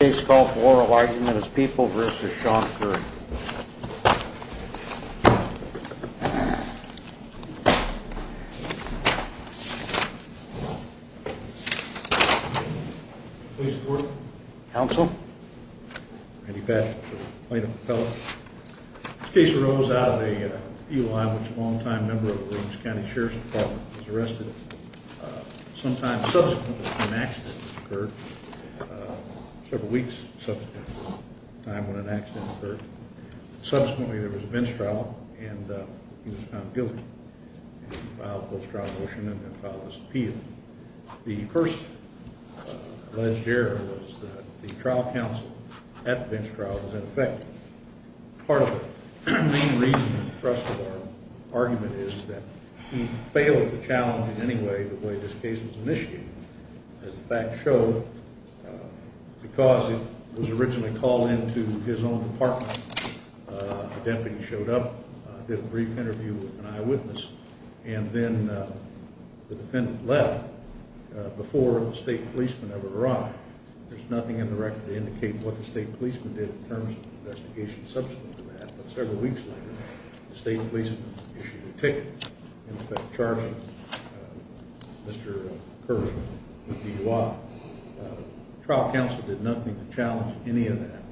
This case calls for oral argument as People v. Sean Curry. Please report. Counsel. Randy Patrick, plaintiff appellate. This case arose out of a DUI in which a long-time member of the Williams County Sheriff's Department was arrested. Sometime subsequent to when an accident occurred, several weeks subsequent to the time when an accident occurred, subsequently there was a bench trial and he was found guilty. He filed a post-trial motion and then filed his appeal. The first alleged error was that the trial counsel at the bench trial was ineffective. Part of the main reason and thrust of our argument is that he failed to challenge in any way the way this case was initiated. As the facts show, because it was originally called into his own department, the deputy showed up, did a brief interview with an eyewitness, and then the defendant left before the state policemen ever arrived. There's nothing in the record to indicate what the state policemen did in terms of the investigation subsequent to that, but several weeks later the state policemen issued a ticket in effect charging Mr. Curry with DUI. The trial counsel did nothing to challenge any of that,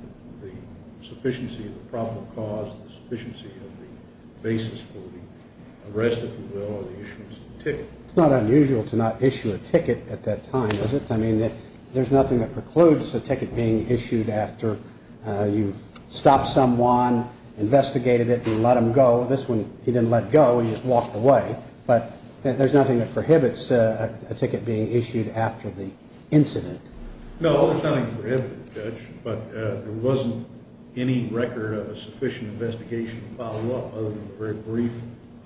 the sufficiency of the probable cause, the sufficiency of the basis for the arrest, if you will, or the issuance of the ticket. It's not unusual to not issue a ticket at that time, is it? I mean, there's nothing that precludes a ticket being issued after you've stopped someone, investigated it, and let them go. This one, he didn't let go. He just walked away. But there's nothing that prohibits a ticket being issued after the incident. No, there's nothing to prohibit it, Judge. But there wasn't any record of a sufficient investigation follow-up other than very brief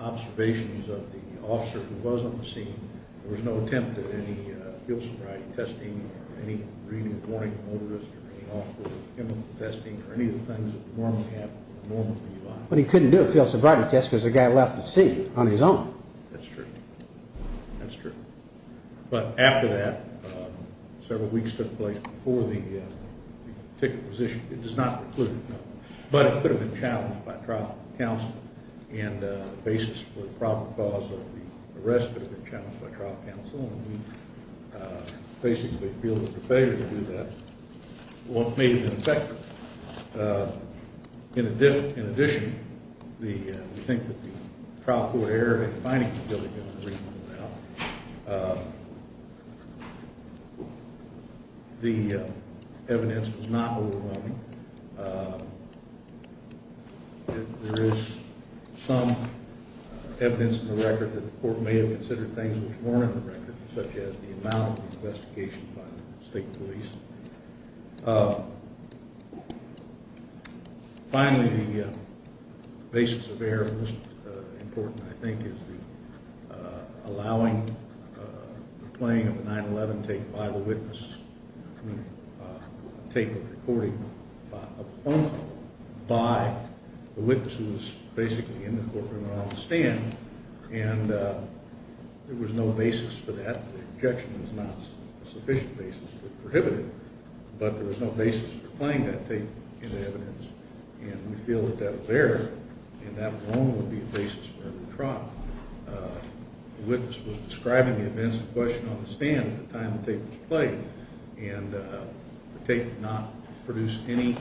observations of the officer who was on the scene. There was no attempt at any field sobriety testing or any reading of the warning notice or any officer's chemical testing or any of the things that would normally happen in a normal DUI. But he couldn't do a field sobriety test because the guy left the scene on his own. That's true. That's true. But after that, several weeks took place before the ticket was issued. It does not preclude it. But it could have been challenged by trial counsel and the basis for the proper cause of the arrest could have been challenged by trial counsel, and we basically feel that the failure to do that may have been effective. In addition, we think that the trial court error in finding the building is reasonable now. The evidence was not overwhelming. There is some evidence in the record that the court may have considered things which weren't in the record, such as the amount of investigation by the state police. Finally, the basis of error, most important, I think, is the allowing the playing of the 9-11 tape by the witness, the tape of the recording by the witness who was basically in the courtroom and on the stand, and there was no basis for that. The objection is not a sufficient basis to prohibit it, but there was no basis for playing that tape in the evidence, and we feel that that was error, and that alone would be a basis for error of trial. The witness was describing the events in question on the stand at the time the tape was played, and the tape did not produce any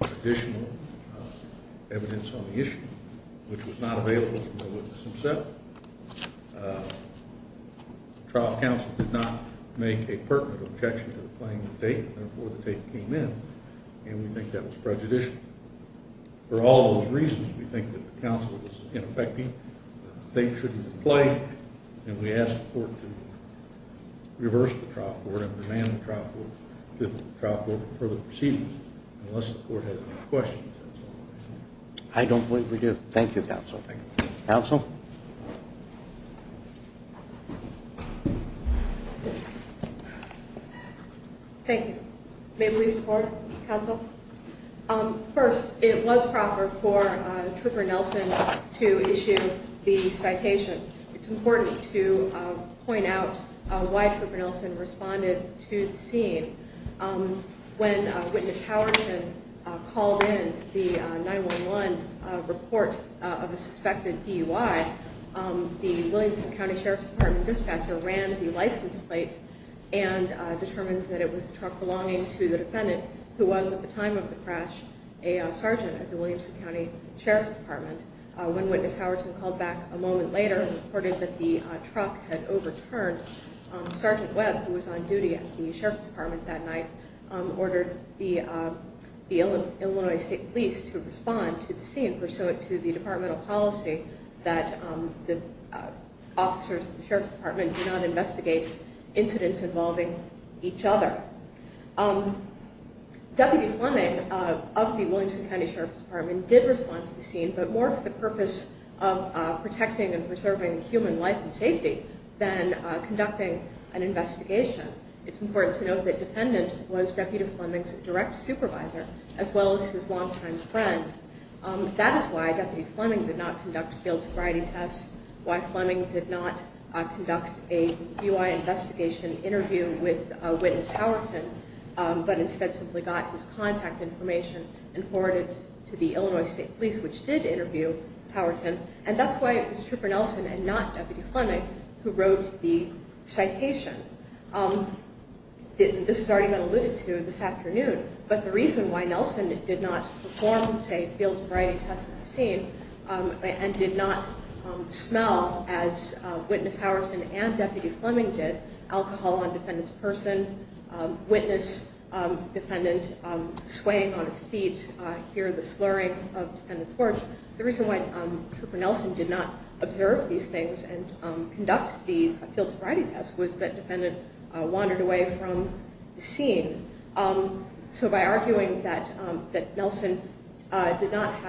additional evidence on the issue, which was not available from the witness himself. The trial counsel did not make a pertinent objection to the playing of the tape, and therefore the tape came in, and we think that was prejudicial. For all those reasons, we think that the counsel was ineffective. The tape should be played, and we ask the court to reverse the trial court and demand the trial court to further proceedings unless the court has any questions. I don't believe we do. Thank you, counsel. Counsel? Thank you. May we support, counsel? First, it was proper for Trooper Nelson to issue the citation. It's important to point out why Trooper Nelson responded to the scene. When Witness Howerton called in the 911 report of a suspected DUI, the Williamson County Sheriff's Department dispatcher ran the license plate and determined that it was the truck belonging to the defendant, who was at the time of the crash a sergeant at the Williamson County Sheriff's Department. When Witness Howerton called back a moment later and reported that the truck had overturned, Sergeant Webb, who was on duty at the Sheriff's Department that night, ordered the Illinois State Police to respond to the scene pursuant to the departmental policy that the officers of the Sheriff's Department do not investigate incidents involving each other. Deputy Fleming of the Williamson County Sheriff's Department did respond to the scene, but more for the purpose of protecting and preserving human life and safety than conducting an investigation. It's important to note that the defendant was Deputy Fleming's direct supervisor as well as his longtime friend. That is why Deputy Fleming did not conduct failed sobriety tests, why Fleming did not conduct a DUI investigation interview with Witness Howerton, but instead simply got his contact information and forwarded it to the Illinois State Police, which did interview Howerton, and that's why it was Trooper Nelson and not Deputy Fleming who wrote the citation. This has already been alluded to this afternoon, but the reason why Nelson did not perform, say, a failed sobriety test on the scene and did not smell as Witness Howerton and Deputy Fleming did alcohol on the defendant's person, witness the defendant swaying on his feet, hear the slurring of the defendant's words, the reason why Trooper Nelson did not observe these things and conduct the failed sobriety test was that the defendant wandered away from the scene. So by arguing that Nelson was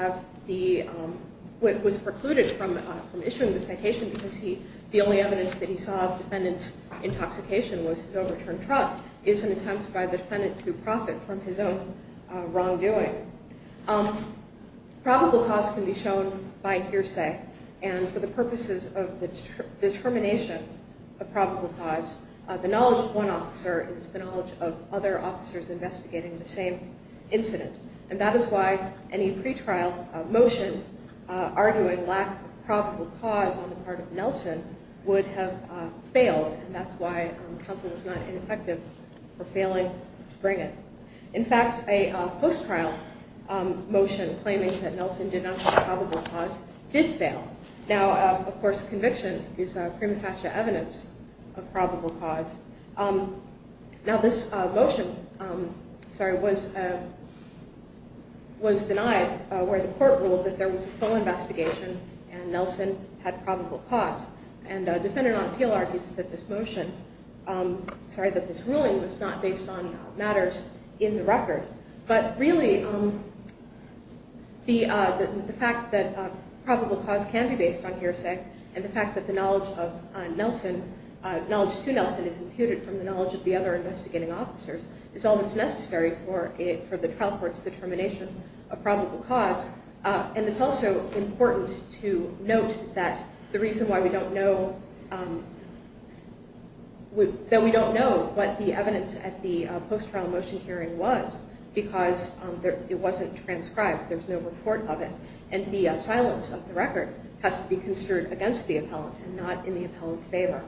precluded from issuing the citation because the only evidence that he saw of the defendant's intoxication was his overturned truck is an attempt by the defendant to profit from his own wrongdoing. Probable cause can be shown by hearsay, and for the purposes of the determination of probable cause, the knowledge of one officer is the knowledge of other officers investigating the same incident, and that is why any pretrial motion arguing lack of probable cause on the part of Nelson would have failed, and that's why counsel was not ineffective for failing to bring it. In fact, a post-trial motion claiming that Nelson did not have probable cause did fail. Now, of course, conviction is prima facie evidence of probable cause. Now, this motion was denied where the court ruled that there was a full investigation and Nelson had probable cause, and a defendant on appeal argues that this motion, sorry, that this ruling was not based on matters in the record, but really the fact that probable cause can be based on hearsay and the fact that the knowledge to Nelson is imputed from the knowledge of the other investigating officers is all that's necessary for the trial court's determination of probable cause, and it's also important to note that the reason why we don't know, that we don't know what the evidence at the post-trial motion hearing was because it wasn't transcribed, there's no report of it, and the silence of the record has to be construed against the appellant and not in the appellant's favor.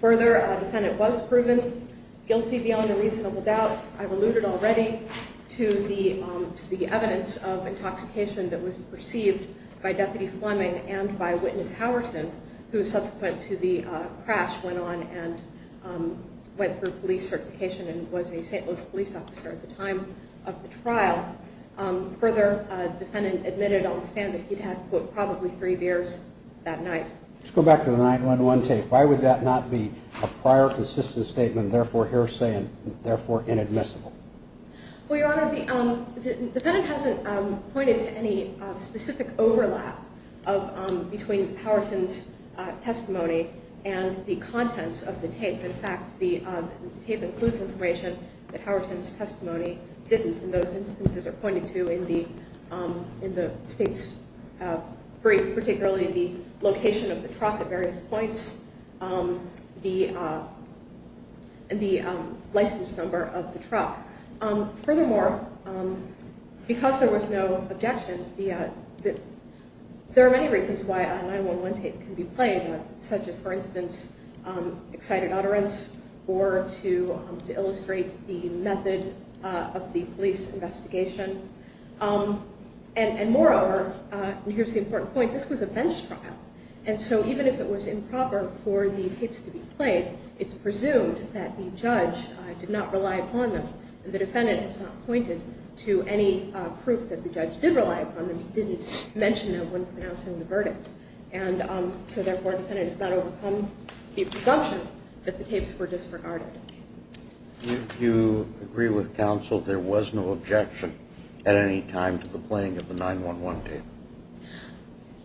Further, a defendant was proven guilty beyond a reasonable doubt. I've alluded already to the evidence of intoxication that was perceived by Deputy Fleming and by Witness Howerton, who subsequent to the crash went on and went through police certification and was a St. Louis police officer at the time of the trial. Further, a defendant admitted on the stand that he'd had, quote, probably three beers that night. Let's go back to the 911 tape. Why would that not be a prior consistent statement, therefore hearsay, and therefore inadmissible? Well, Your Honor, the defendant hasn't pointed to any specific overlap between Howerton's testimony and the contents of the tape. In fact, the tape includes information that Howerton's testimony didn't in those instances or pointed to in the state's brief, particularly the location of the truck at various points and the license number of the truck. Furthermore, because there was no objection, there are many reasons why a 911 tape can be played, such as, for instance, excited utterance or to illustrate the method of the police investigation. And moreover, and here's the important point, this was a bench trial, and so even if it was improper for the tapes to be played, it's presumed that the judge did not rely upon them, and the defendant has not pointed to any proof that the judge did rely upon them, and so therefore the defendant has not overcome the presumption that the tapes were disregarded. Do you agree with counsel there was no objection at any time to the playing of the 911 tape?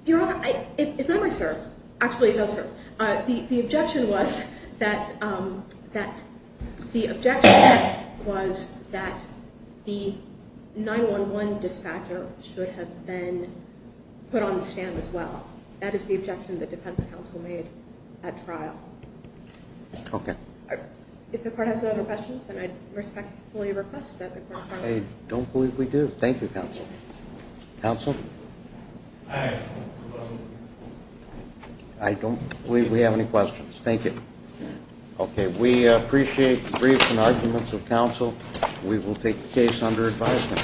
Your Honor, if memory serves, actually it does serve. The objection was that the 9-1-1 dispatcher should have been put on the stand as well. That is the objection the defense counsel made at trial. Okay. If the court has no other questions, then I respectfully request that the court file it. I don't believe we do. Thank you, counsel. Counsel? I don't believe we have any questions. Thank you. Okay. We appreciate the briefs and arguments of counsel. We will take the case under advisement.